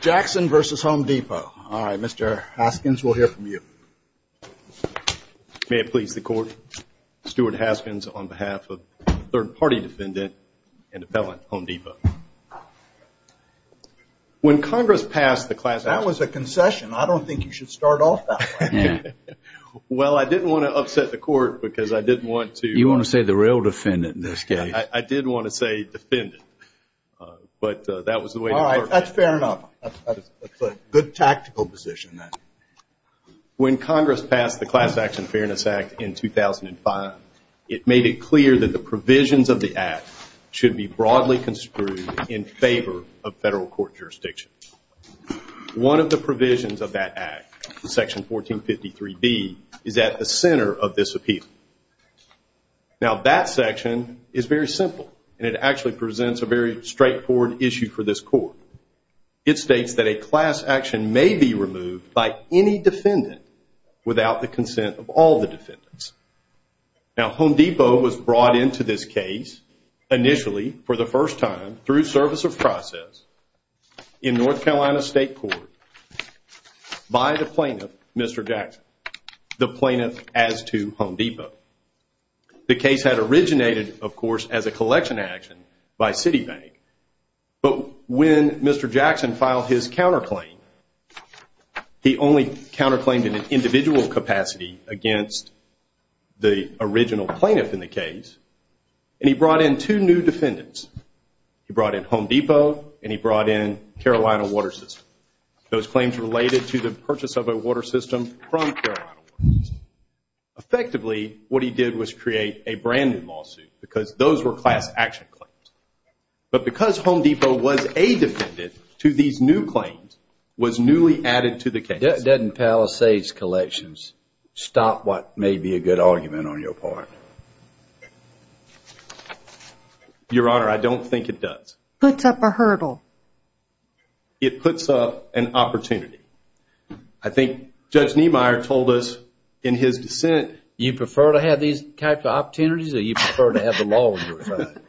Jackson v. Home Depot. All right, Mr. Haskins, we'll hear from you. May it please the Court, Stuart Haskins on behalf of third-party defendant and appellant, Home Depot. When Congress passed the class action… That was a concession. I don't think you should start off that way. Well, I didn't want to upset the Court because I didn't want to… You want to say the real defendant in this case. I did want to say defendant, but that was the way… All right, that's fair enough. That's a good tactical position then. When Congress passed the Class Action Fairness Act in 2005, it made it clear that the provisions of the act should be broadly construed in favor of federal court jurisdiction. One of the provisions of that act, section 1453B, is at the center of this appeal. Now, that section is very simple, and it actually presents a very straightforward issue for this Court. It states that a class action may be removed by any defendant without the consent of all the defendants. Now, Home Depot was brought into this case initially, for the first time, through service of process in North Carolina State Court by the plaintiff, Mr. Jackson, the plaintiff as to Home Depot. The case had originated, of course, as a collection action by Citibank, but when Mr. Jackson filed his counterclaim, he only counterclaimed in an individual capacity against the original plaintiff in the case, and he brought in two new defendants. He brought in Home Depot, and he brought in Carolina Water System. Those claims related to the purchase of a water system from Carolina Water System. Effectively, what he did was create a branded lawsuit, because those were class action claims, but because Home Depot was a defendant to these new claims, was newly added to the case. That doesn't palisade collections. Stop what may be a good argument on your part. Your Honor, I don't think it does. Puts up a hurdle. It puts up an opportunity. I think Judge Niemeyer told us in his dissent. You prefer to have these types of opportunities, or you prefer to have the law on your side?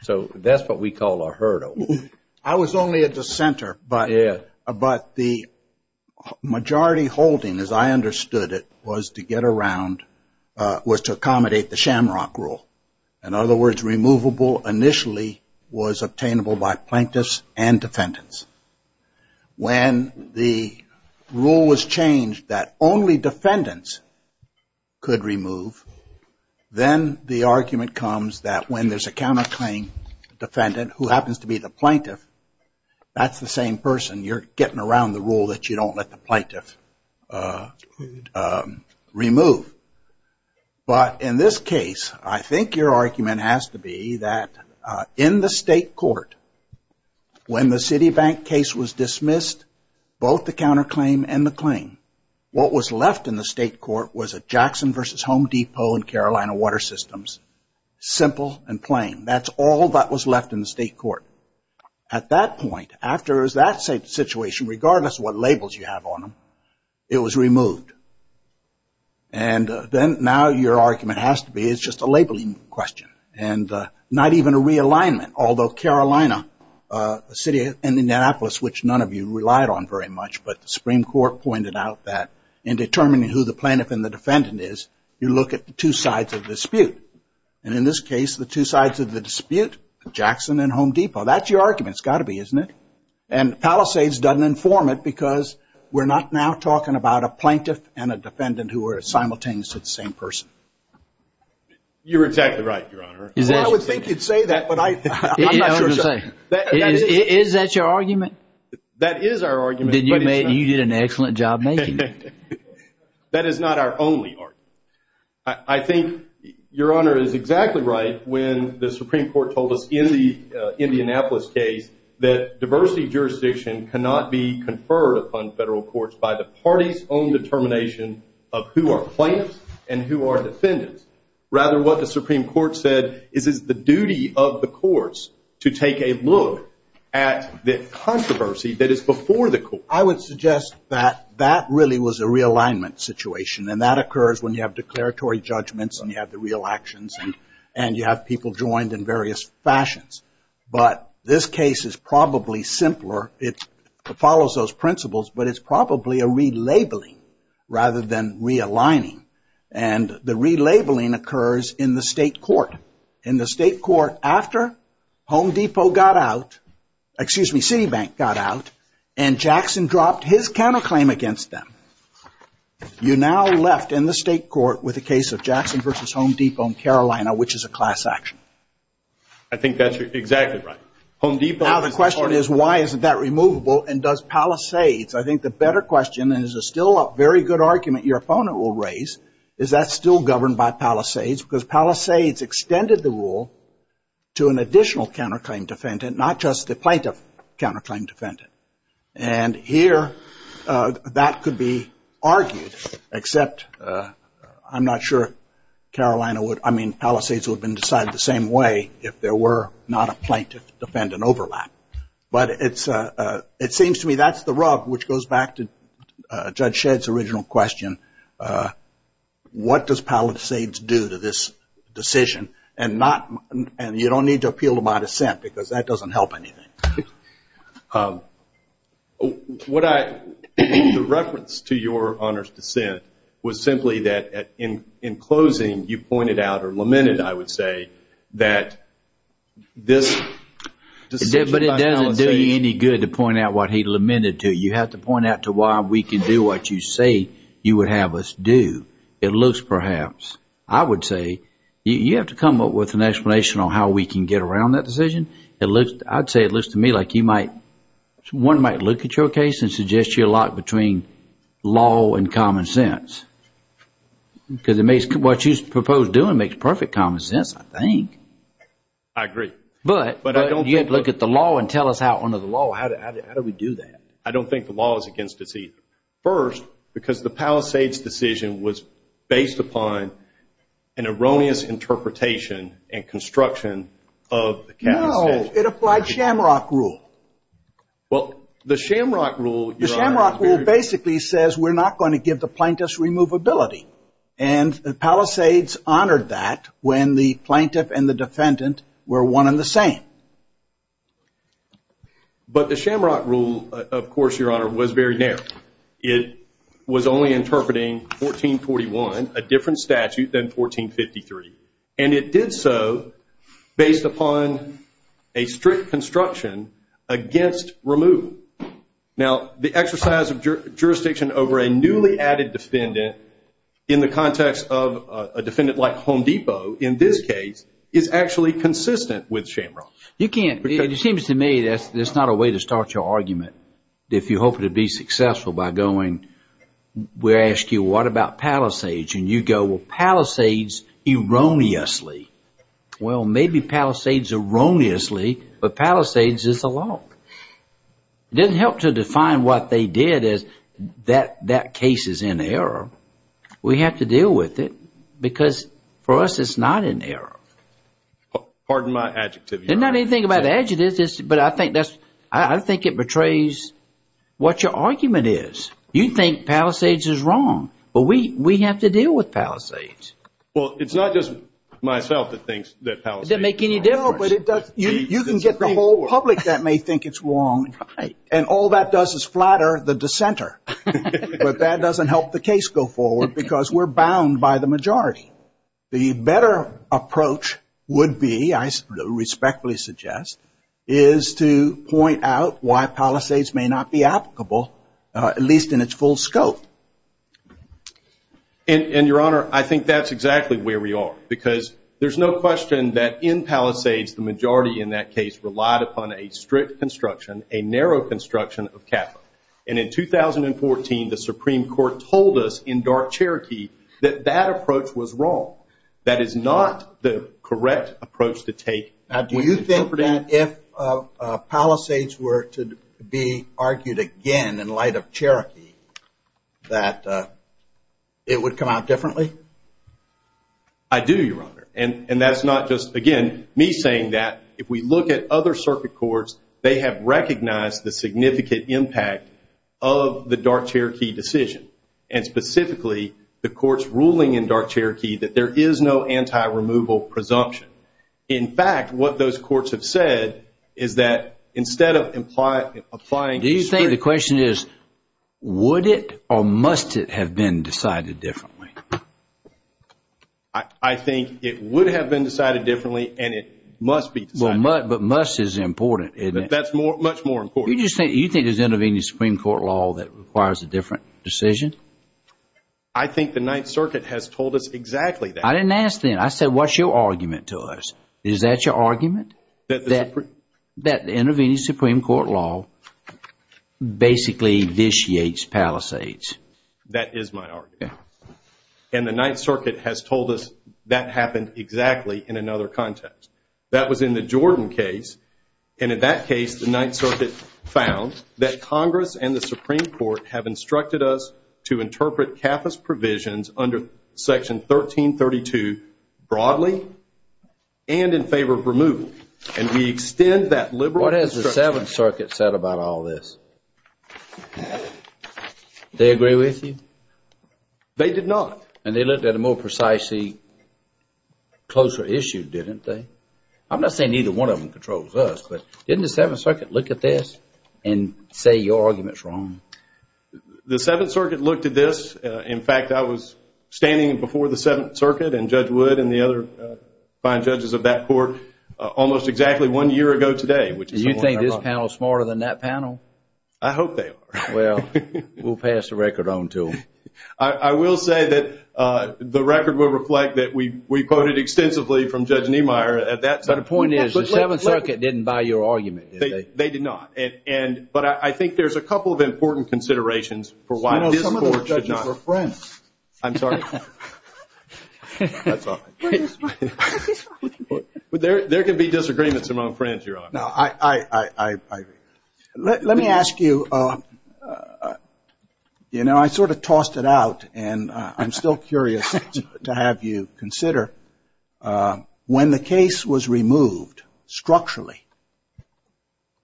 So that's what we call a hurdle. I was only a dissenter, but the majority holding, as I understood it, was to get around, was to accommodate the shamrock rule. In other words, removable initially was obtainable by plaintiffs and defendants. When the rule was changed that only defendants could remove, then the argument comes that when there's a counterclaim defendant, who happens to be the plaintiff, that's the same person. You're getting around the rule that you don't let the plaintiff remove. But in this case, I think your argument has to be that in the state court, when the Citibank case was dismissed, both the counterclaim and the claim, what was left in the state court was a Jackson v. Home Depot and Carolina Water Systems. Simple and plain. That's all that was left in the state court. At that point, after that situation, regardless of what labels you have on them, it was removed. And then now your argument has to be it's just a labeling question and not even a realignment. Although Carolina, a city in Indianapolis, which none of you relied on very much, but the Supreme Court pointed out that in determining who the plaintiff and the defendant is, you look at the two sides of the dispute. And in this case, the two sides of the dispute, Jackson and Home Depot, that's your argument. It's got to be, isn't it? And Palisades doesn't inform it because we're not now talking about a plaintiff and a defendant who are simultaneously the same person. You're exactly right, Your Honor. I would think you'd say that, but I'm not sure. Is that your argument? That is our argument. You did an excellent job making it. That is not our only argument. I think Your Honor is exactly right when the Supreme Court told us in the Indianapolis case that diversity jurisdiction cannot be conferred upon federal courts by the party's own determination of who are plaintiffs and who are defendants. Rather, what the Supreme Court said is it's the duty of the courts to take a look at the controversy that is before the courts. I would suggest that that really was a realignment situation, and that occurs when you have declaratory judgments and you have the real actions and you have people joined in various fashions. But this case is probably simpler. It follows those principles, but it's probably a relabeling rather than realigning. And the relabeling occurs in the state court. In the state court, after Home Depot got out, excuse me, Citibank got out, and Jackson dropped his counterclaim against them, you now left in the state court with a case of Jackson v. Home Depot in Carolina, which is a class action. I think that's exactly right. Now the question is why isn't that removable and does Palisades, I think the better question and is still a very good argument your opponent will raise, is that's still governed by Palisades because Palisades extended the rule to an additional counterclaim defendant, not just the plaintiff counterclaim defendant. And here that could be argued, except I'm not sure Palisades would have been decided the same way, if there were not a plaintiff defendant overlap. But it seems to me that's the rub, which goes back to Judge Shedd's original question. What does Palisades do to this decision? And you don't need to appeal to my dissent because that doesn't help anything. The reference to your Honor's dissent was simply that in closing you pointed out or lamented, I would say, that this decision by Palisades. But it doesn't do you any good to point out what he lamented to. You have to point out to why we can do what you say you would have us do. It looks perhaps, I would say, you have to come up with an explanation on how we can get around that decision. I'd say it looks to me like one might look at your case and suggest you're locked between law and common sense. Because what you propose doing makes perfect common sense, I think. I agree. But you have to look at the law and tell us how under the law, how do we do that? I don't think the law is against us either. First, because the Palisades decision was based upon an erroneous interpretation and construction of the capitalization. No, it applied Shamrock rule. Well, the Shamrock rule, Your Honor. The Shamrock rule basically says we're not going to give the plaintiffs removability. And Palisades honored that when the plaintiff and the defendant were one and the same. But the Shamrock rule, of course, Your Honor, was very narrow. It was only interpreting 1441, a different statute than 1453. And it did so based upon a strict construction against removal. Now, the exercise of jurisdiction over a newly added defendant in the context of a defendant like Home Depot, in this case, is actually consistent with Shamrock. It seems to me that's not a way to start your argument. If you're hoping to be successful by going, we ask you, what about Palisades? And you go, well, Palisades erroneously. Well, maybe Palisades erroneously, but Palisades is the law. It doesn't help to define what they did as that case is in error. We have to deal with it, because for us it's not in error. Pardon my adjective, Your Honor. It's not anything about adjectives, but I think it betrays what your argument is. You think Palisades is wrong, but we have to deal with Palisades. Well, it's not just myself that thinks that Palisades is wrong. No, but you can get the whole public that may think it's wrong, and all that does is flatter the dissenter. But that doesn't help the case go forward, because we're bound by the majority. The better approach would be, I respectfully suggest, is to point out why Palisades may not be applicable, at least in its full scope. And, Your Honor, I think that's exactly where we are, because there's no question that in Palisades, the majority in that case relied upon a strict construction, a narrow construction of capital. And in 2014, the Supreme Court told us in dark Cherokee that that approach was wrong. That is not the correct approach to take. Now, do you think that if Palisades were to be argued again in light of Cherokee, that it would come out differently? I do, Your Honor. And that's not just, again, me saying that. If we look at other circuit courts, they have recognized the significant impact of the dark Cherokee decision, and specifically the courts ruling in dark Cherokee that there is no anti-removal presumption. In fact, what those courts have said is that instead of applying a strict… Do you think the question is, would it or must it have been decided differently? I think it would have been decided differently, and it must be decided differently. But must is important, isn't it? That's much more important. You think there's anything in the Supreme Court law that requires a different decision? I think the Ninth Circuit has told us exactly that. I didn't ask then. I said, what's your argument to us? Is that your argument, that the intervening Supreme Court law basically vitiates Palisades? That is my argument. And the Ninth Circuit has told us that happened exactly in another context. That was in the Jordan case, and in that case, the Ninth Circuit found that Congress and the Supreme Court have instructed us to interpret CAFA's provisions under Section 1332 broadly and in favor of removal. And we extend that liberal… What has the Seventh Circuit said about all this? They agree with you? They did not. And they looked at a more precisely closer issue, didn't they? I'm not saying either one of them controls us, but didn't the Seventh Circuit look at this and say your argument is wrong? The Seventh Circuit looked at this. In fact, I was standing before the Seventh Circuit and Judge Wood and the other fine judges of that court almost exactly one year ago today. Do you think this panel is smarter than that panel? I hope they are. Well, we'll pass the record on to them. I will say that the record will reflect that we quoted extensively from Judge Niemeyer at that time. But the point is, the Seventh Circuit didn't buy your argument, did they? They did not. But I think there's a couple of important considerations for why this court should not… Some of those judges were friends. I'm sorry. There can be disagreements among friends, Your Honor. Let me ask you, you know, I sort of tossed it out, and I'm still curious to have you consider. When the case was removed structurally,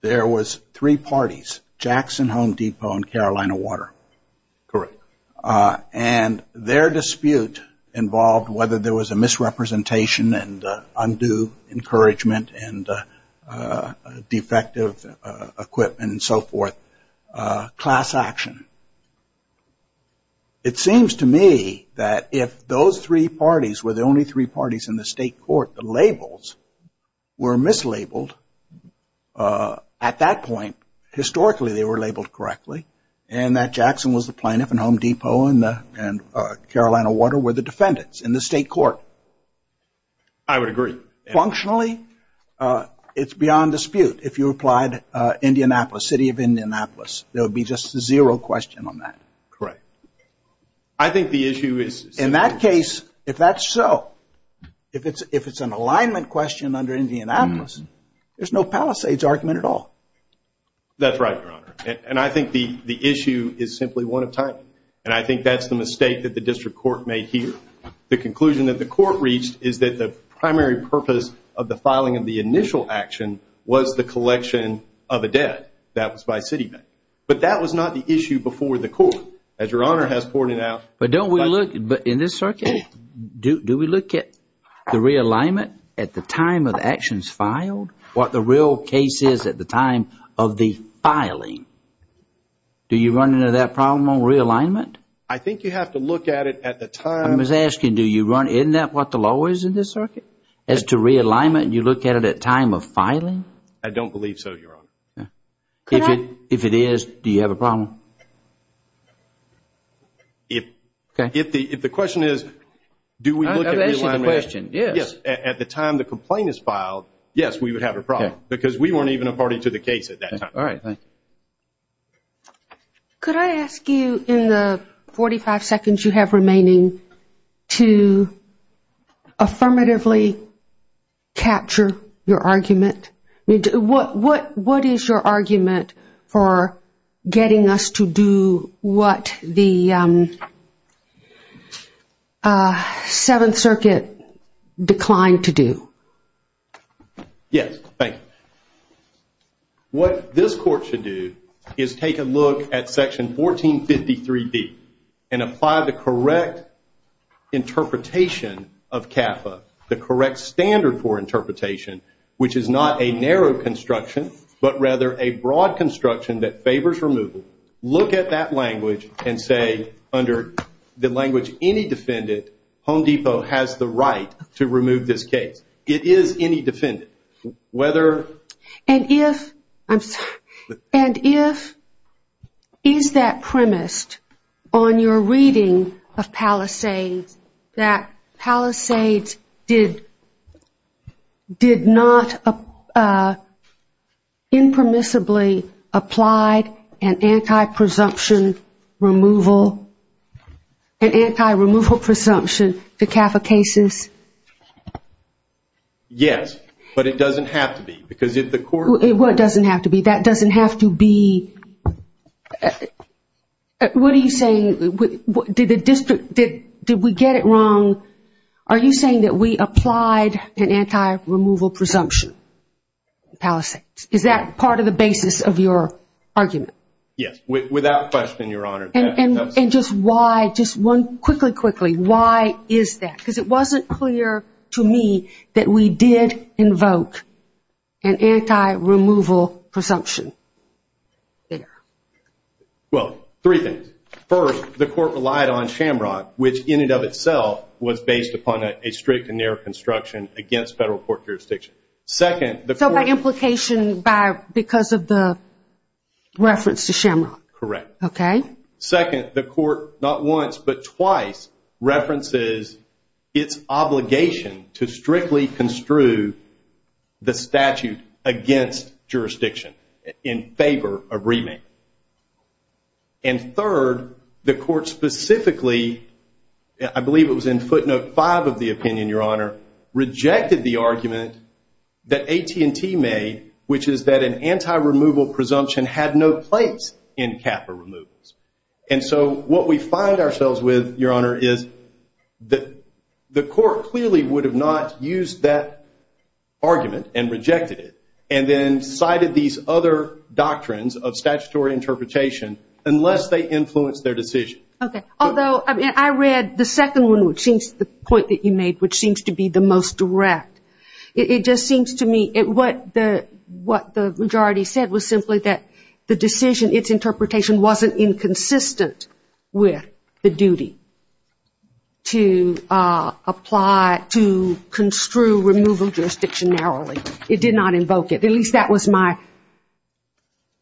there was three parties, Jackson Home Depot and Carolina Water. Correct. And their dispute involved whether there was a misrepresentation and undue encouragement and defective equipment and so forth, class action. It seems to me that if those three parties were the only three parties in the state court, the labels were mislabeled, at that point, historically, they were labeled correctly, and that Jackson was the plaintiff and Home Depot and Carolina Water were the defendants in the state court. I would agree. Functionally, it's beyond dispute. If you applied Indianapolis, city of Indianapolis, there would be just a zero question on that. Correct. I think the issue is… In that case, if that's so, if it's an alignment question under Indianapolis, there's no Palisades argument at all. That's right, Your Honor. And I think the issue is simply one of timing. And I think that's the mistake that the district court made here. The conclusion that the court reached is that the primary purpose of the filing of the initial action was the collection of a debt. That was by city bank. But that was not the issue before the court. As Your Honor has pointed out… But don't we look, in this circuit, do we look at the realignment at the time of the actions filed? What the real case is at the time of the filing? Do you run into that problem on realignment? I think you have to look at it at the time… I was asking, isn't that what the law is in this circuit? As to realignment, you look at it at time of filing? I don't believe so, Your Honor. If it is, do you have a problem? If the question is, do we look at realignment… I've answered the question, yes. At the time the complaint is filed, yes, we would have a problem. Because we weren't even a party to the case at that time. All right, thank you. Could I ask you, in the 45 seconds you have remaining, to affirmatively capture your argument? What is your argument for getting us to do what the Seventh Circuit declined to do? Yes, thank you. What this court should do is take a look at Section 1453B and apply the correct interpretation of CAFA, the correct standard for interpretation, which is not a narrow construction, but rather a broad construction that favors removal. Look at that language and say, under the language any defendant, Home Depot has the right to remove this case. It is any defendant, whether… And if, is that premised on your reading of Palisades, that Palisades did not impermissibly apply an anti-presumption removal, an anti-removal presumption to CAFA cases? Yes, but it doesn't have to be because if the court… What doesn't have to be? That doesn't have to be… What are you saying? Did we get it wrong? Are you saying that we applied an anti-removal presumption on Palisades? Is that part of the basis of your argument? Yes, without question, Your Honor. And just why, just one, quickly, quickly, why is that? Because it wasn't clear to me that we did invoke an anti-removal presumption there. Well, three things. First, the court relied on Shamrock, which in and of itself was based upon a strict and narrow construction against federal court jurisdiction. So by implication because of the reference to Shamrock? Correct. Okay. Second, the court not once but twice references its obligation to strictly construe the statute against jurisdiction in favor of remand. And third, the court specifically, I believe it was in footnote five of the opinion, Your Honor, rejected the argument that AT&T made, which is that an anti-removal presumption had no place in CAFA removals. And so what we find ourselves with, Your Honor, is the court clearly would have not used that argument and rejected it and then cited these other doctrines of statutory interpretation unless they influenced their decision. Okay. Although I read the second one, which seems to be the point that you made, which seems to be the most direct. It just seems to me what the majority said was simply that the decision, its interpretation wasn't inconsistent with the duty to apply, to construe removal jurisdiction narrowly. It did not invoke it. At least that was my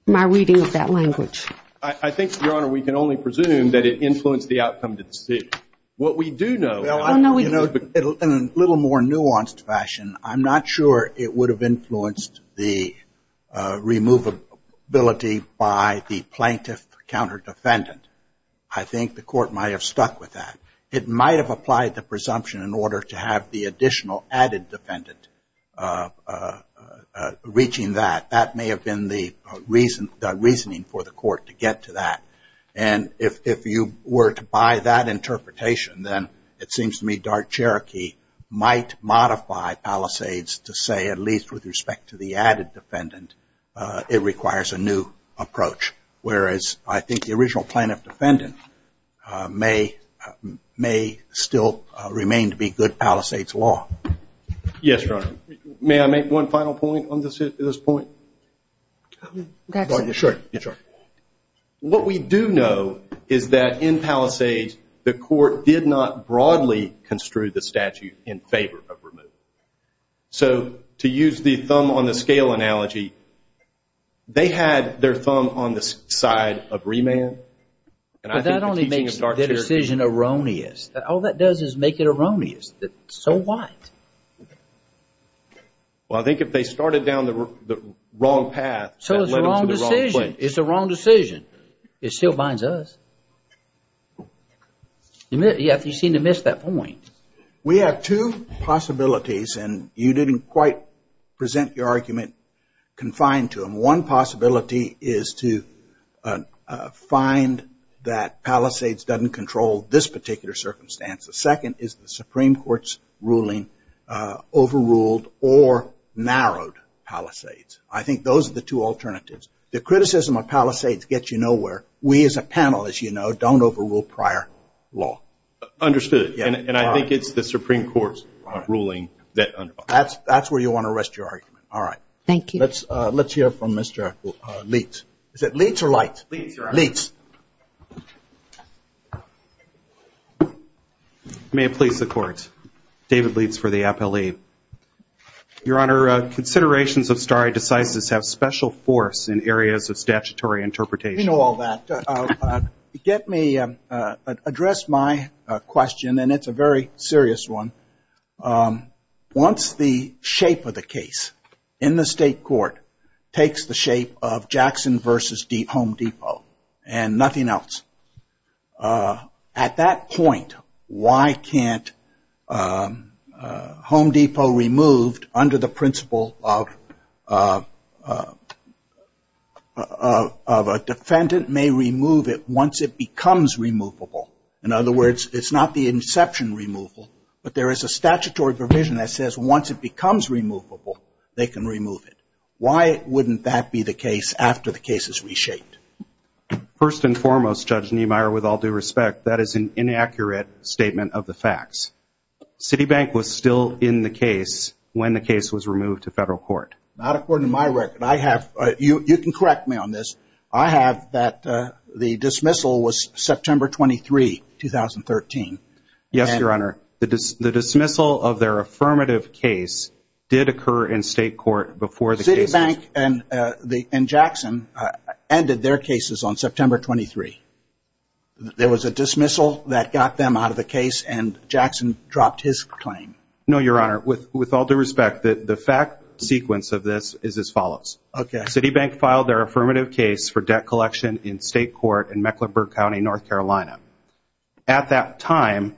reading of that language. I think, Your Honor, we can only presume that it influenced the outcome of the decision. What we do know, in a little more nuanced fashion, I'm not sure it would have influenced the removability by the plaintiff or counter-defendant. I think the court might have stuck with that. It might have applied the presumption in order to have the additional added defendant reaching that. That may have been the reasoning for the court to get to that. If you were to buy that interpretation, then it seems to me Dart-Cherokee might modify Palisades to say, at least with respect to the added defendant, it requires a new approach. Whereas I think the original plaintiff-defendant may still remain to be good Palisades law. Yes, Your Honor. May I make one final point on this point? Sure. What we do know is that, in Palisades, the court did not broadly construe the statute in favor of removal. So, to use the thumb-on-the-scale analogy, they had their thumb on the side of remand. But that only makes the decision erroneous. All that does is make it erroneous. So what? Well, I think if they started down the wrong path, that led them to the wrong place. It's a wrong decision. It still binds us. You seem to have missed that point. We have two possibilities, and you didn't quite present your argument confined to them. One possibility is to find that Palisades doesn't control this particular circumstance. The second is the Supreme Court's ruling overruled or narrowed Palisades. I think those are the two alternatives. The criticism of Palisades gets you nowhere. We, as a panel, as you know, don't overrule prior law. Understood. And I think it's the Supreme Court's ruling that underlies it. That's where you want to rest your argument. All right. Thank you. Let's hear from Mr. Leitz. Is it Leitz or Light? Leitz, Your Honor. Leitz. May it please the Court, David Leitz for the appellee. Your Honor, considerations of stare decisis have special force in areas of statutory interpretation. You know all that. Let me address my question, and it's a very serious one. Once the shape of the case in the state court takes the shape of Jackson v. Home Depot and nothing else, at that point, why can't Home Depot removed under the principle of a defendant may remove it once it becomes removable? In other words, it's not the inception removal, but there is a statutory provision that says once it becomes removable, they can remove it. Why wouldn't that be the case after the case is reshaped? First and foremost, Judge Niemeyer, with all due respect, that is an inaccurate statement of the facts. Citibank was still in the case when the case was removed to federal court. Not according to my record. You can correct me on this. I have that the dismissal was September 23, 2013. Yes, Your Honor. The dismissal of their affirmative case did occur in state court before the case was removed. Citibank and Jackson ended their cases on September 23. There was a dismissal that got them out of the case, and Jackson dropped his claim. No, Your Honor. With all due respect, the fact sequence of this is as follows. Citibank filed their affirmative case for debt collection in state court in Mecklenburg County, North Carolina. At that time,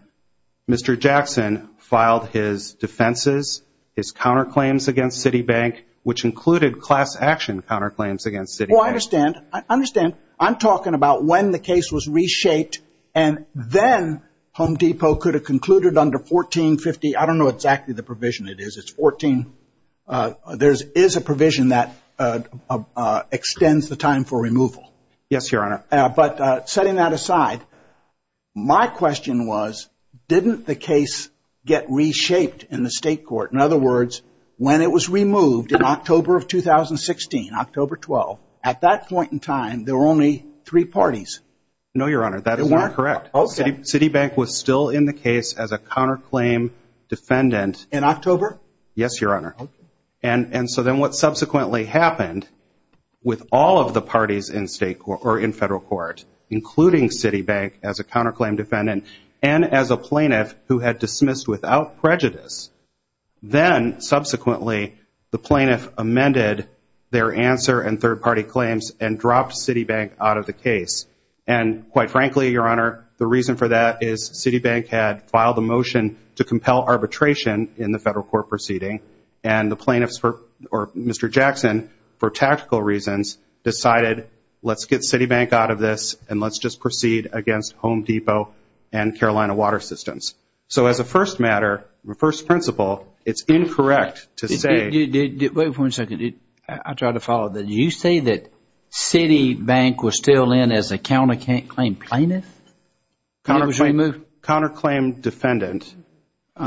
Mr. Jackson filed his defenses, his counterclaims against Citibank, which included class action counterclaims against Citibank. Well, I understand. I understand. I'm talking about when the case was reshaped, and then Home Depot could have concluded under 1450. I don't know exactly the provision it is. It's 14. There is a provision that extends the time for removal. Yes, Your Honor. But setting that aside, my question was, didn't the case get reshaped in the state court? In other words, when it was removed in October of 2016, October 12, at that point in time, there were only three parties. No, Your Honor. That is not correct. Citibank was still in the case as a counterclaim defendant. In October? Yes, Your Honor. And so then what subsequently happened with all of the parties in federal court, including Citibank as a counterclaim defendant and as a plaintiff who had dismissed without prejudice, then subsequently the plaintiff amended their answer and third-party claims and dropped Citibank out of the case. And quite frankly, Your Honor, the reason for that is Citibank had filed a motion to compel arbitration in the federal court proceeding, and the plaintiffs or Mr. Jackson, for tactical reasons, decided let's get Citibank out of this and let's just proceed against Home Depot and Carolina Water Systems. So as a first matter, first principle, it's incorrect to say. Wait one second. I'll try to follow. Did you say that Citibank was still in as a counterclaim plaintiff? Counterclaim defendant.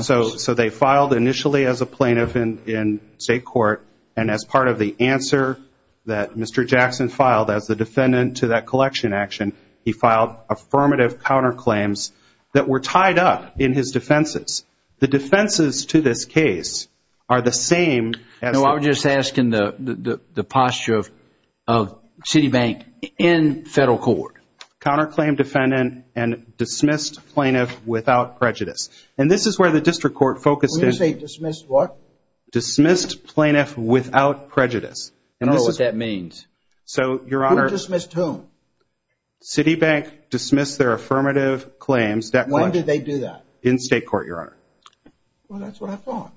So they filed initially as a plaintiff in state court, and as part of the answer that Mr. Jackson filed as the defendant to that collection action, he filed affirmative counterclaims that were tied up in his defenses. The defenses to this case are the same as the- No, I'm just asking the posture of Citibank in federal court. Counterclaim defendant and dismissed plaintiff without prejudice. And this is where the district court focused in- When you say dismissed what? Dismissed plaintiff without prejudice. I don't know what that means. So, Your Honor- Who dismissed whom? Citibank dismissed their affirmative claims- When did they do that? In state court, Your Honor. Well, that's what I thought.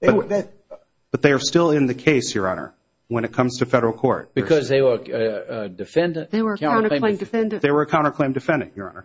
But they are still in the case, Your Honor, when it comes to federal court. Because they were a defendant? They were a counterclaim defendant. They were a counterclaim defendant, Your Honor.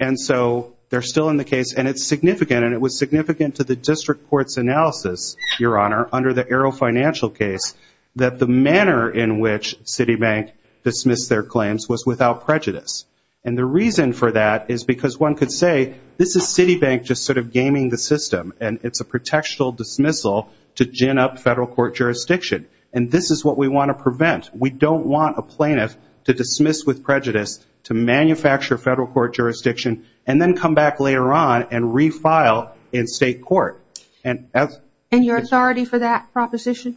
And so they're still in the case, and it's significant, and it was significant to the district court's analysis, Your Honor, under the Arrow Financial case, that the manner in which Citibank dismissed their claims was without prejudice. And the reason for that is because one could say, this is Citibank just sort of gaming the system, and it's a protectional dismissal to gin up federal court jurisdiction. And this is what we want to prevent. We don't want a plaintiff to dismiss with prejudice, to manufacture federal court jurisdiction, and then come back later on and refile in state court. And that's- And your authority for that proposition?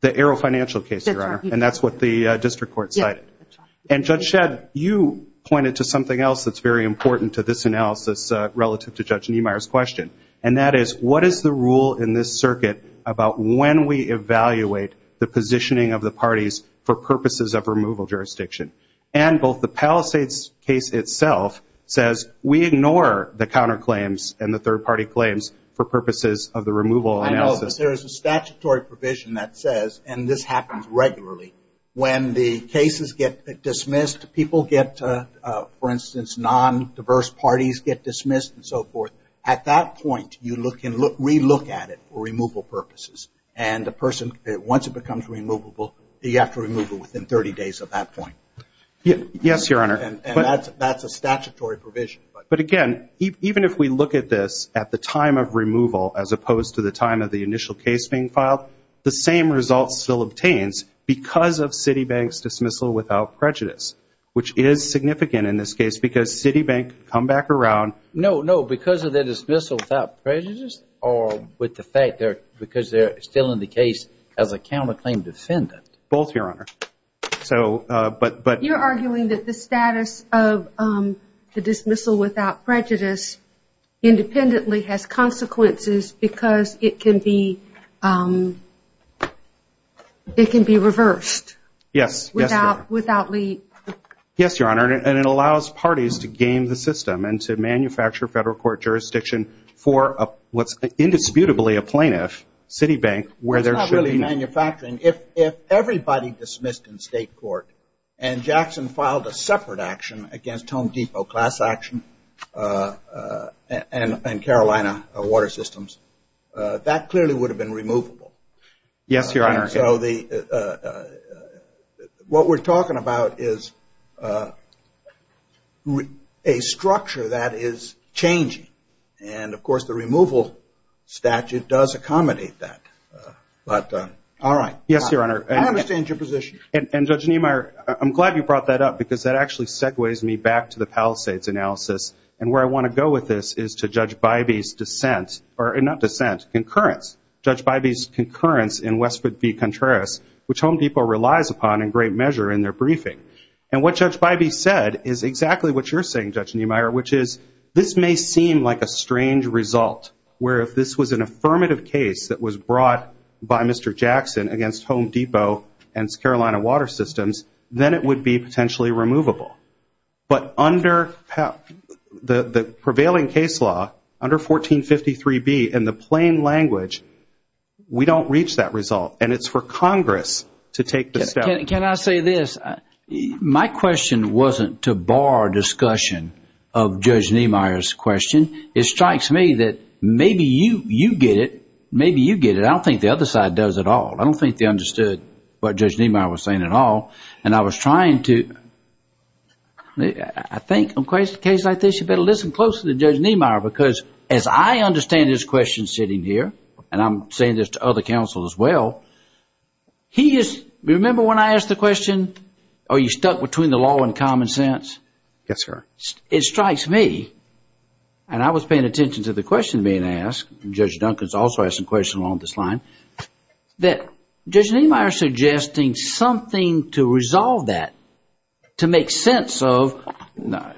The Arrow Financial case, Your Honor. That's right. And that's what the district court cited. Yes, that's right. And Judge Shedd, you pointed to something else that's very important to this analysis relative to Judge Niemeyer's question. And that is, what is the rule in this circuit about when we evaluate the positioning of the parties for purposes of removal jurisdiction? And both the Palisades case itself says we ignore the counterclaims and the third-party claims for purposes of the removal analysis. I know, but there is a statutory provision that says, and this happens regularly, when the cases get dismissed, people get, for instance, non-diverse parties get dismissed and so forth. At that point, you look and re-look at it for removal purposes. And the person, once it becomes removable, you have to remove it within 30 days of that point. Yes, Your Honor. And that's a statutory provision. But again, even if we look at this at the time of removal, as opposed to the time of the initial case being filed, the same result still obtains because of Citibank's dismissal without prejudice, which is significant in this case because Citibank can come back around- No, no, because of their dismissal without prejudice or with the fact that because they're still in the case as a counterclaim defendant? Both, Your Honor. You're arguing that the status of the dismissal without prejudice independently has consequences because it can be reversed without- Yes, Your Honor. Yes, Your Honor, and it allows parties to game the system and to manufacture federal court jurisdiction for what's indisputably a plaintiff, Citibank, where there should be- It's not really manufacturing. If everybody dismissed in state court and Jackson filed a separate action against Home Depot, Class Action, and Carolina Water Systems, Yes, Your Honor. and so what we're talking about is a structure that is changing, and of course the removal statute does accommodate that, but- All right. Yes, Your Honor. I understand your position. And, Judge Niemeyer, I'm glad you brought that up because that actually segues me back to the Palisades analysis, and where I want to go with this is to Judge Bybee's dissent, or not dissent, concurrence. Judge Bybee's concurrence in Westwood v. Contreras, which Home Depot relies upon in great measure in their briefing. And what Judge Bybee said is exactly what you're saying, Judge Niemeyer, which is this may seem like a strange result, where if this was an affirmative case that was brought by Mr. Jackson against Home Depot and Carolina Water Systems, then it would be potentially removable. But under the prevailing case law, under 1453B, in the plain language, we don't reach that result, and it's for Congress to take the step. Can I say this? My question wasn't to bar discussion of Judge Niemeyer's question. It strikes me that maybe you get it. Maybe you get it. I don't think the other side does at all. I don't think they understood what Judge Niemeyer was saying at all, and I was trying to, I think in a case like this, you better listen closely to Judge Niemeyer, because as I understand his question sitting here, and I'm saying this to other counsel as well, he is, remember when I asked the question, are you stuck between the law and common sense? Yes, sir. It strikes me, and I was paying attention to the question being asked, and Judge Duncan's also asked some questions along this line, that Judge Niemeyer is suggesting something to resolve that, to make sense of,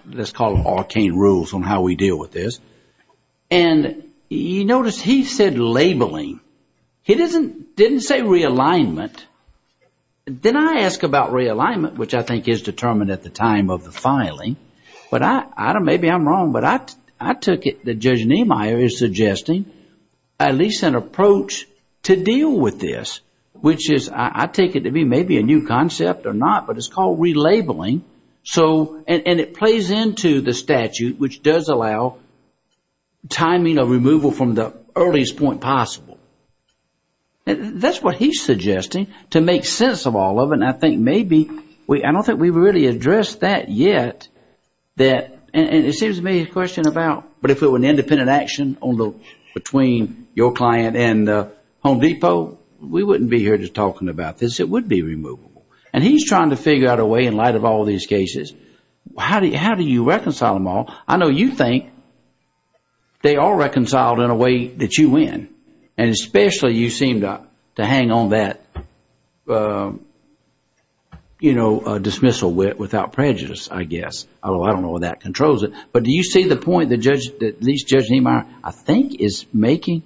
let's call it arcane rules on how we deal with this, and you notice he said labeling. He didn't say realignment. Then I asked about realignment, which I think is determined at the time of the filing, but maybe I'm wrong, but I took it that Judge Niemeyer is suggesting at least an approach to deal with this, which is, I take it to be maybe a new concept or not, but it's called relabeling, and it plays into the statute, which does allow timing of removal from the earliest point possible. That's what he's suggesting, to make sense of all of it, and I think maybe, I don't think we've really addressed that yet, and it seems to me a question about, but if it were an independent action between your client and Home Depot, we wouldn't be here just talking about this. It would be removable, and he's trying to figure out a way, in light of all these cases, how do you reconcile them all? I know you think they are reconciled in a way that you win, and especially you seem to hang on that, you know, dismissal wit without prejudice, I guess. I don't know if that controls it, but do you see the point that Judge Niemeyer, I think, is making?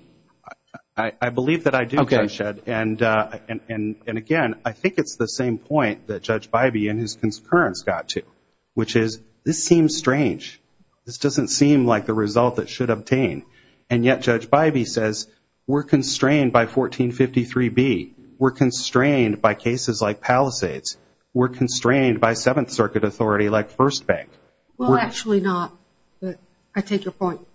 I believe that I do, Judge Shedd, and again, I think it's the same point that Judge Bybee, in his concurrence, got to, which is, this seems strange. This doesn't seem like the result that should obtain, and yet Judge Bybee says, we're constrained by 1453B. We're constrained by cases like Palisades. We're constrained by Seventh Circuit authority like First Bank. Well, actually not, but I take your point.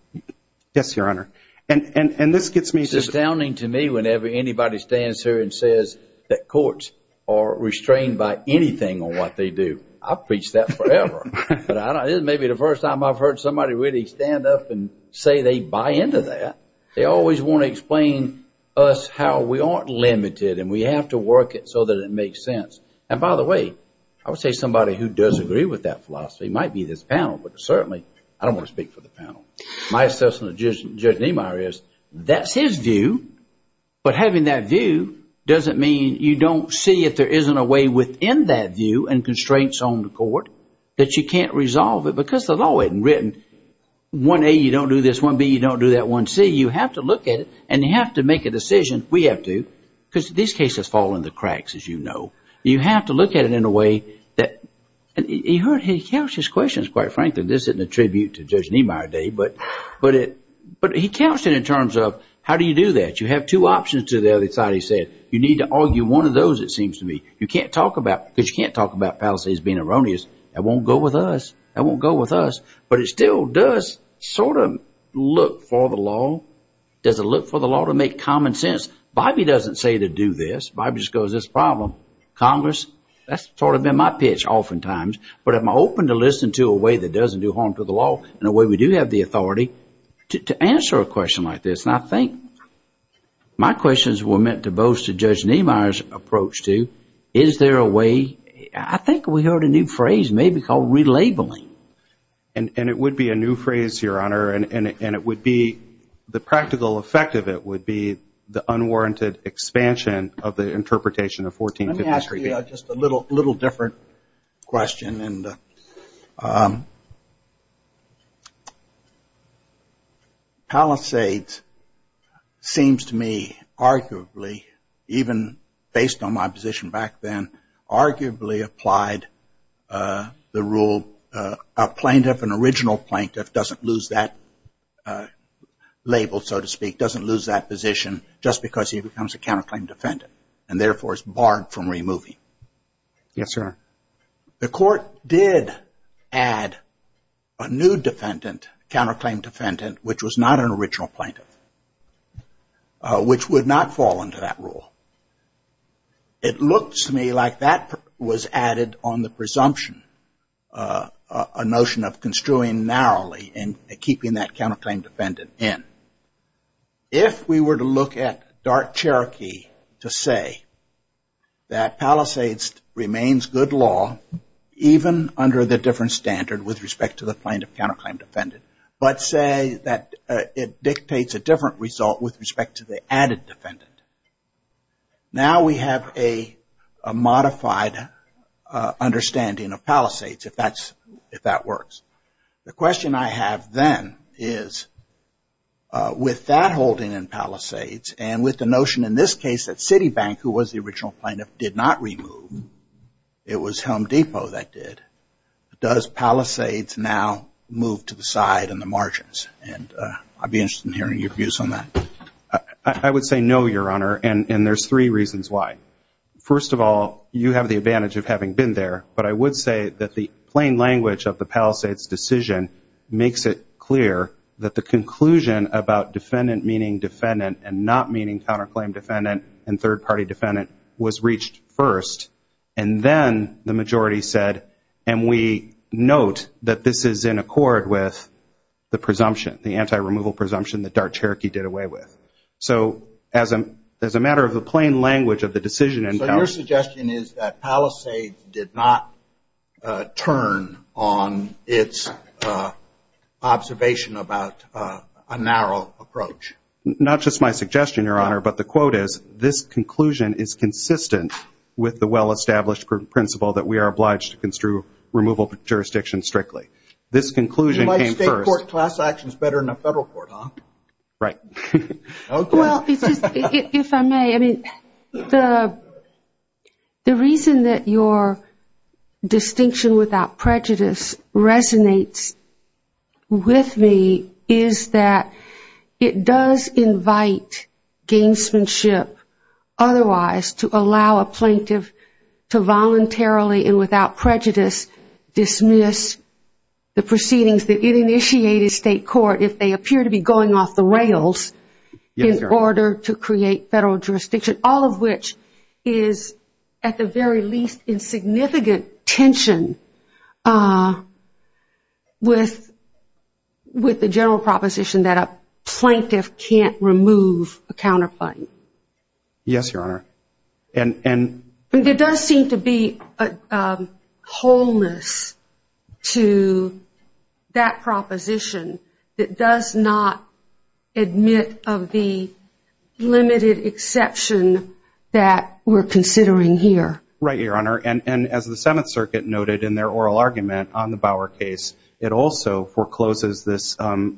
Yes, Your Honor. It's astounding to me whenever anybody stands here and says that courts are restrained by anything on what they do. I've preached that forever, but this may be the first time I've heard somebody really stand up and say they buy into that. They always want to explain to us how we aren't limited, and we have to work it so that it makes sense. And by the way, I would say somebody who does agree with that philosophy might be this panel, but certainly I don't want to speak for the panel. My assessment of Judge Niemeyer is that's his view, but having that view doesn't mean you don't see if there isn't a way within that view and constraints on the court that you can't resolve it, because the law isn't written 1A, you don't do this, 1B, you don't do that, 1C. You have to look at it, and you have to make a decision. We have to, because these cases fall into the cracks, as you know. You have to look at it in a way that, and he couched his questions, quite frankly. This isn't a tribute to Judge Niemeyer today, but he couched it in terms of how do you do that. You have two options to the other side, he said. You need to argue one of those, it seems to me. You can't talk about, because you can't talk about palaces being erroneous. That won't go with us. That won't go with us, but it still does sort of look for the law. Does it look for the law to make common sense? Bybee doesn't say to do this. Bybee just goes, this is a problem. Congress, that's sort of been my pitch oftentimes, but I'm open to listen to a way that doesn't do harm to the law in a way we do have the authority to answer a question like this. And I think my questions were meant to boast of Judge Niemeyer's approach to, is there a way, I think we heard a new phrase maybe called relabeling. And it would be a new phrase, Your Honor, and it would be the practical effect of it would be the unwarranted expansion of the interpretation of 1453. Let me ask you just a little different question. Palisades seems to me arguably, even based on my position back then, arguably applied the rule, a plaintiff, an original plaintiff, doesn't lose that label, so to speak, doesn't lose that position, just because he becomes a counterclaim defendant and therefore is barred from removing. Yes, sir. The court did add a new defendant, counterclaim defendant, which was not an original plaintiff, which would not fall into that rule. It looks to me like that was added on the presumption, a notion of construing narrowly and keeping that counterclaim defendant in. If we were to look at dark Cherokee to say that Palisades remains good law, even under the different standard with respect to the plaintiff, counterclaim defendant, but say that it dictates a different result with respect to the added defendant. Now we have a modified understanding of Palisades, if that works. The question I have then is with that holding in Palisades and with the notion in this case that Citibank, who was the original plaintiff, did not remove, it was Home Depot that did, does Palisades now move to the side in the margins? And I'd be interested in hearing your views on that. I would say no, Your Honor, and there's three reasons why. First of all, you have the advantage of having been there, but I would say that the plain language of the Palisades decision makes it clear that the conclusion about defendant meaning defendant and not meaning counterclaim defendant and third-party defendant was reached first, and then the majority said, and we note that this is in accord with the presumption, the anti-removal presumption that dark Cherokee did away with. So as a matter of the plain language of the decision in Palisades. My suggestion is that Palisades did not turn on its observation about a narrow approach. Not just my suggestion, Your Honor, but the quote is, this conclusion is consistent with the well-established principle that we are obliged to construe removal jurisdictions strictly. This conclusion came first. You like state court class actions better than a federal court, huh? Right. Well, if I may, I mean, the reason that your distinction without prejudice resonates with me is that it does invite gamesmanship otherwise to allow a plaintiff to voluntarily and without prejudice dismiss the proceedings that it initiated state court if they appear to be going off the rails in order to create federal jurisdiction, all of which is at the very least in significant tension with the general proposition that a plaintiff can't remove a counterclaim. Yes, Your Honor. And there does seem to be a wholeness to that proposition that does not admit of the limited exception that we're considering here. Right, Your Honor. And as the Seventh Circuit noted in their oral argument on the Bauer case, it also forecloses this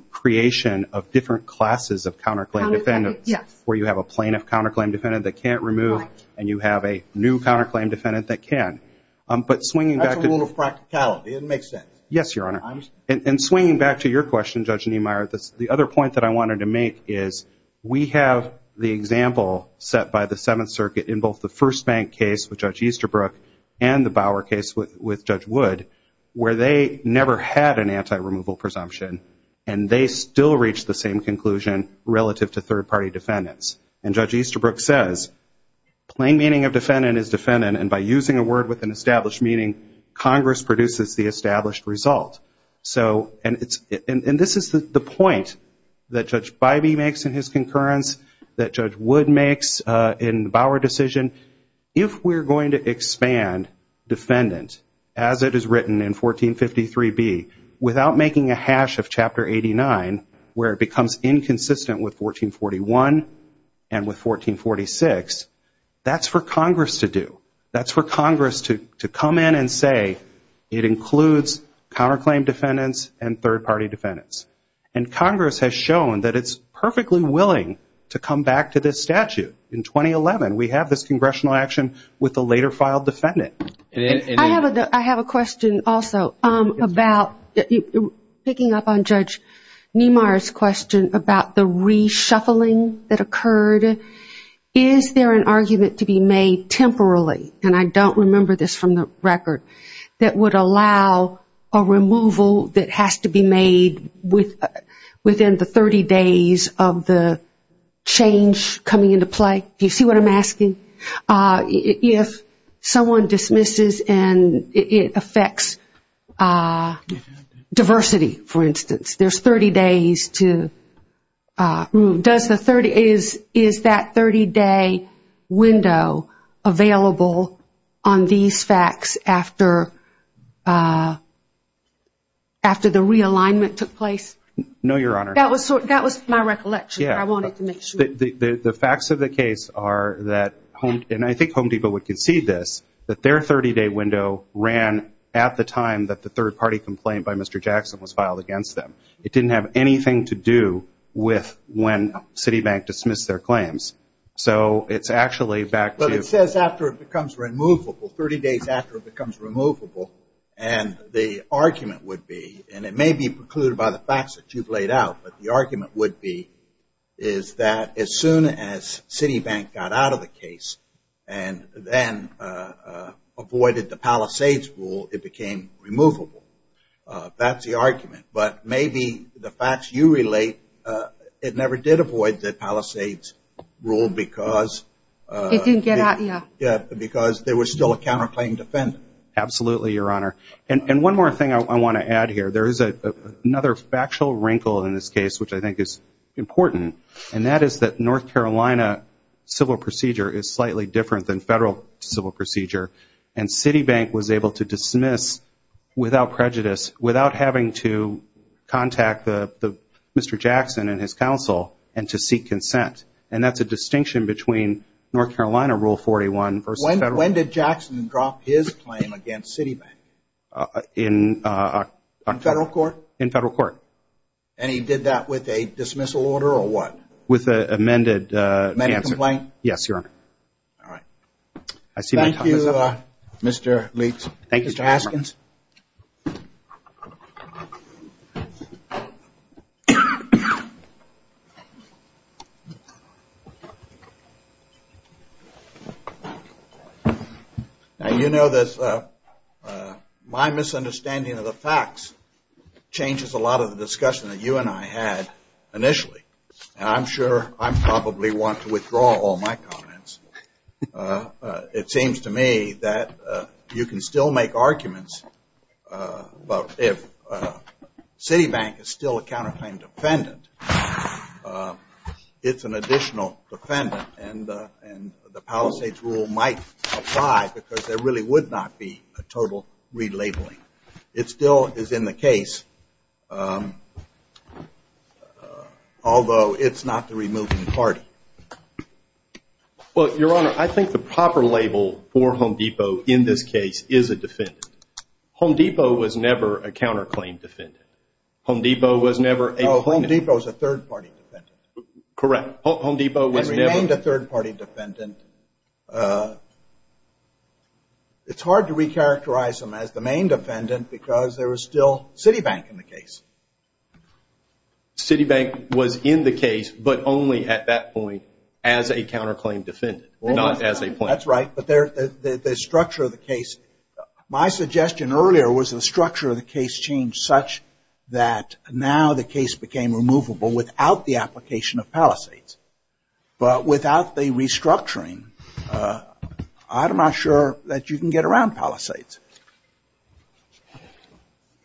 creation of different classes of counterclaim defendants where you have a plaintiff counterclaim defendant that can't remove and you have a new counterclaim defendant that can. That's a rule of practicality. It makes sense. Yes, Your Honor. And swinging back to your question, Judge Niemeyer, the other point that I wanted to make is we have the example set by the Seventh Circuit in both the First Bank case with Judge Easterbrook and the Bauer case with Judge Wood where they never had an anti-removal presumption and they still reach the same conclusion relative to third-party defendants. And Judge Easterbrook says plain meaning of defendant is defendant and by using a word with an established meaning, Congress produces the established result. And this is the point that Judge Bybee makes in his concurrence, that Judge Wood makes in the Bauer decision. If we're going to expand defendant as it is written in 1453B without making a hash of Chapter 89 where it becomes inconsistent with 1441 and with 1446, that's for Congress to do. That's for Congress to come in and say it includes counterclaim defendants and third-party defendants. And Congress has shown that it's perfectly willing to come back to this statute. In 2011, we have this congressional action with the later filed defendant. I have a question also about picking up on Judge Niemeyer's question about the reshuffling that occurred. Is there an argument to be made temporarily, and I don't remember this from the record, that would allow a removal that has to be made within the 30 days of the change coming into play? Do you see what I'm asking? If someone dismisses and it affects diversity, for instance, there's 30 days to remove. Is that 30-day window available on these facts after the realignment took place? No, Your Honor. That was my recollection. I wanted to make sure. The facts of the case are that, and I think Home Depot would concede this, that their 30-day window ran at the time that the third-party complaint by Mr. Jackson was filed against them. It didn't have anything to do with when Citibank dismissed their claims. So it's actually back to- But it says after it becomes removable, 30 days after it becomes removable, and the argument would be, and it may be precluded by the facts that you've laid out, but the argument would be is that as soon as Citibank got out of the case and then avoided the Palisades rule, it became removable. That's the argument. But maybe the facts you relate, it never did avoid the Palisades rule because- It didn't get out, yeah. Yeah, because there was still a counterclaim defendant. Absolutely, Your Honor. And one more thing I want to add here. There is another factual wrinkle in this case which I think is important, and that is that North Carolina civil procedure is slightly different than federal civil procedure, and Citibank was able to dismiss without prejudice, without having to contact Mr. Jackson and his counsel and to seek consent. And that's a distinction between North Carolina Rule 41 versus federal. When did Jackson drop his claim against Citibank? In- In federal court? In federal court. And he did that with a dismissal order or what? With an amended- Medical complaint? Yes, Your Honor. All right. Thank you, Mr. Leach. Thank you, Your Honor. Mr. Haskins? Now, you know that my misunderstanding of the facts changes a lot of the discussion that you and I had initially, and I'm sure I probably want to withdraw all my comments. It seems to me that you can still make arguments about if Citibank is still a counterclaim defendant, it's an additional defendant, and the Palisades Rule might apply because there really would not be a total relabeling. It still is in the case, although it's not the removing party. Well, Your Honor, I think the proper label for Home Depot in this case is a defendant. Home Depot was never a counterclaim defendant. Home Depot was never a plaintiff. Home Depot is a third-party defendant. Correct. Home Depot was never- It remained a third-party defendant. It's hard to recharacterize them as the main defendant because there was still Citibank in the case. Citibank was in the case, but only at that point as a counterclaim defendant, not as a plaintiff. That's right, but the structure of the case- the application of Palisades. But without the restructuring, I'm not sure that you can get around Palisades.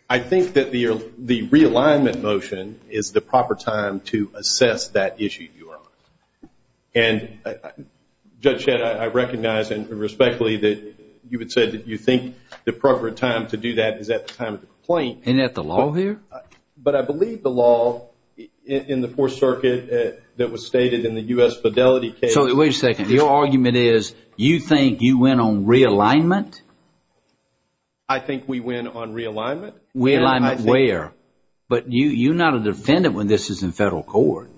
I think that the realignment motion is the proper time to assess that issue, Your Honor. And, Judge Shedd, I recognize and respectfully that you had said that you think the proper time to do that is at the time of the complaint. Isn't that the law here? But I believe the law in the Fourth Circuit that was stated in the U.S. Fidelity case- So, wait a second. Your argument is you think you went on realignment? I think we went on realignment. Realignment where? But you're not a defendant when this is in federal court.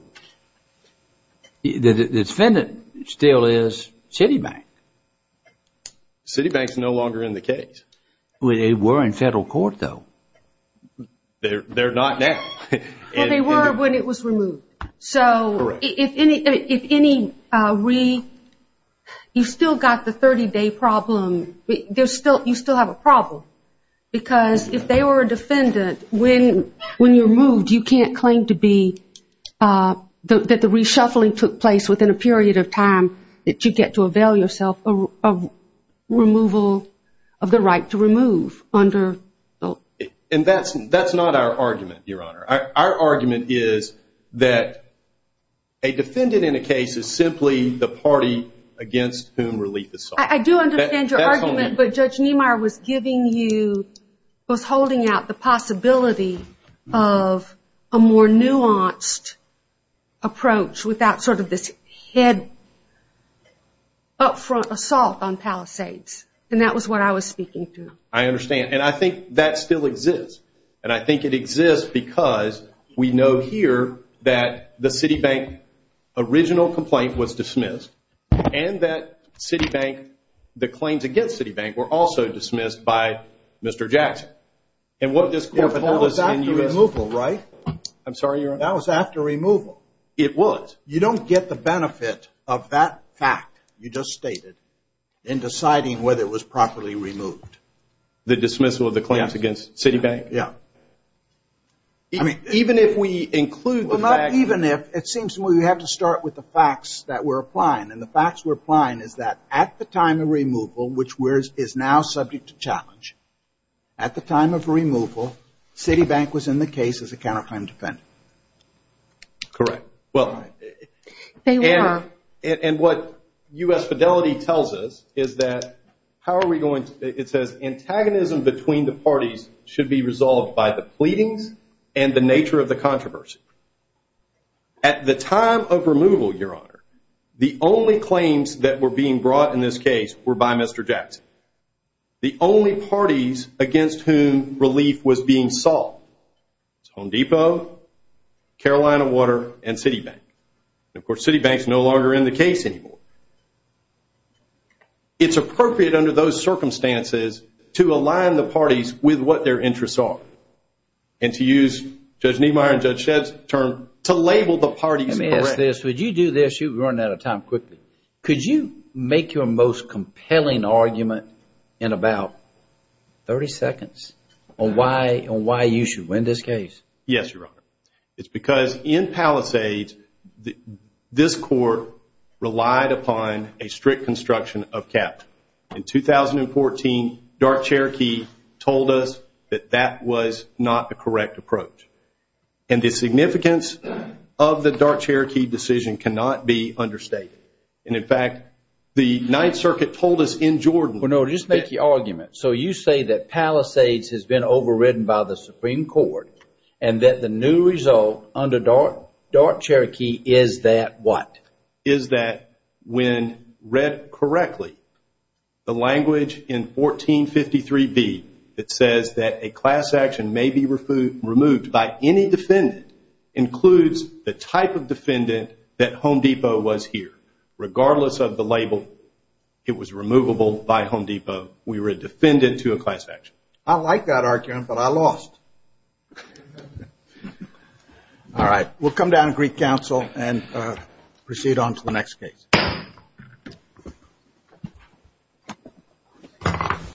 The defendant still is Citibank. Citibank's no longer in the case. They were in federal court, though. They're not now. Well, they were when it was removed. So, if any re- You still got the 30-day problem. You still have a problem. Because if they were a defendant, when you're removed, you can't claim to be- And that's not our argument, Your Honor. Our argument is that a defendant in a case is simply the party against whom relief is sought. I do understand your argument, but Judge Niemeyer was giving you- was holding out the possibility of a more nuanced approach without sort of this head-up front assault on Palisades. And that was what I was speaking to. I understand. And I think that still exists. And I think it exists because we know here that the Citibank original complaint was dismissed and that Citibank, the claims against Citibank were also dismissed by Mr. Jackson. And what this court- That was after removal, right? I'm sorry, Your Honor. That was after removal. It was. But you don't get the benefit of that fact you just stated in deciding whether it was properly removed. The dismissal of the claims against Citibank? Yeah. I mean, even if we include- Well, not even if. It seems to me we have to start with the facts that we're applying. And the facts we're applying is that at the time of removal, which is now subject to challenge, at the time of removal, Citibank was in the case as a counterclaim defendant. Correct. They were. And what U.S. Fidelity tells us is that- How are we going to- It says, Antagonism between the parties should be resolved by the pleadings and the nature of the controversy. At the time of removal, Your Honor, the only claims that were being brought in this case were by Mr. Jackson. The only parties against whom relief was being sought was Home Depot, Carolina Water, and Citibank. And, of course, Citibank is no longer in the case anymore. It's appropriate under those circumstances to align the parties with what their interests are and to use Judge Niemeyer and Judge Shed's term to label the parties correctly. Let me ask this. Would you do this? You're running out of time quickly. Could you make your most compelling argument in about 30 seconds on why you should win this case? Yes, Your Honor. It's because in Palisades, this court relied upon a strict construction of capital. In 2014, Dark Cherokee told us that that was not the correct approach. And the significance of the Dark Cherokee decision cannot be understated. And, in fact, the Ninth Circuit told us in Jordan... Well, no, just make the argument. So you say that Palisades has been overridden by the Supreme Court and that the new result under Dark Cherokee is that what? Is that when read correctly, the language in 1453b, it says that a class action may be removed by any defendant, includes the type of defendant that Home Depot was here. Regardless of the label, it was removable by Home Depot. We were a defendant to a class action. I like that argument, but I lost. All right. We'll come down to Greek Council and proceed on to the next case.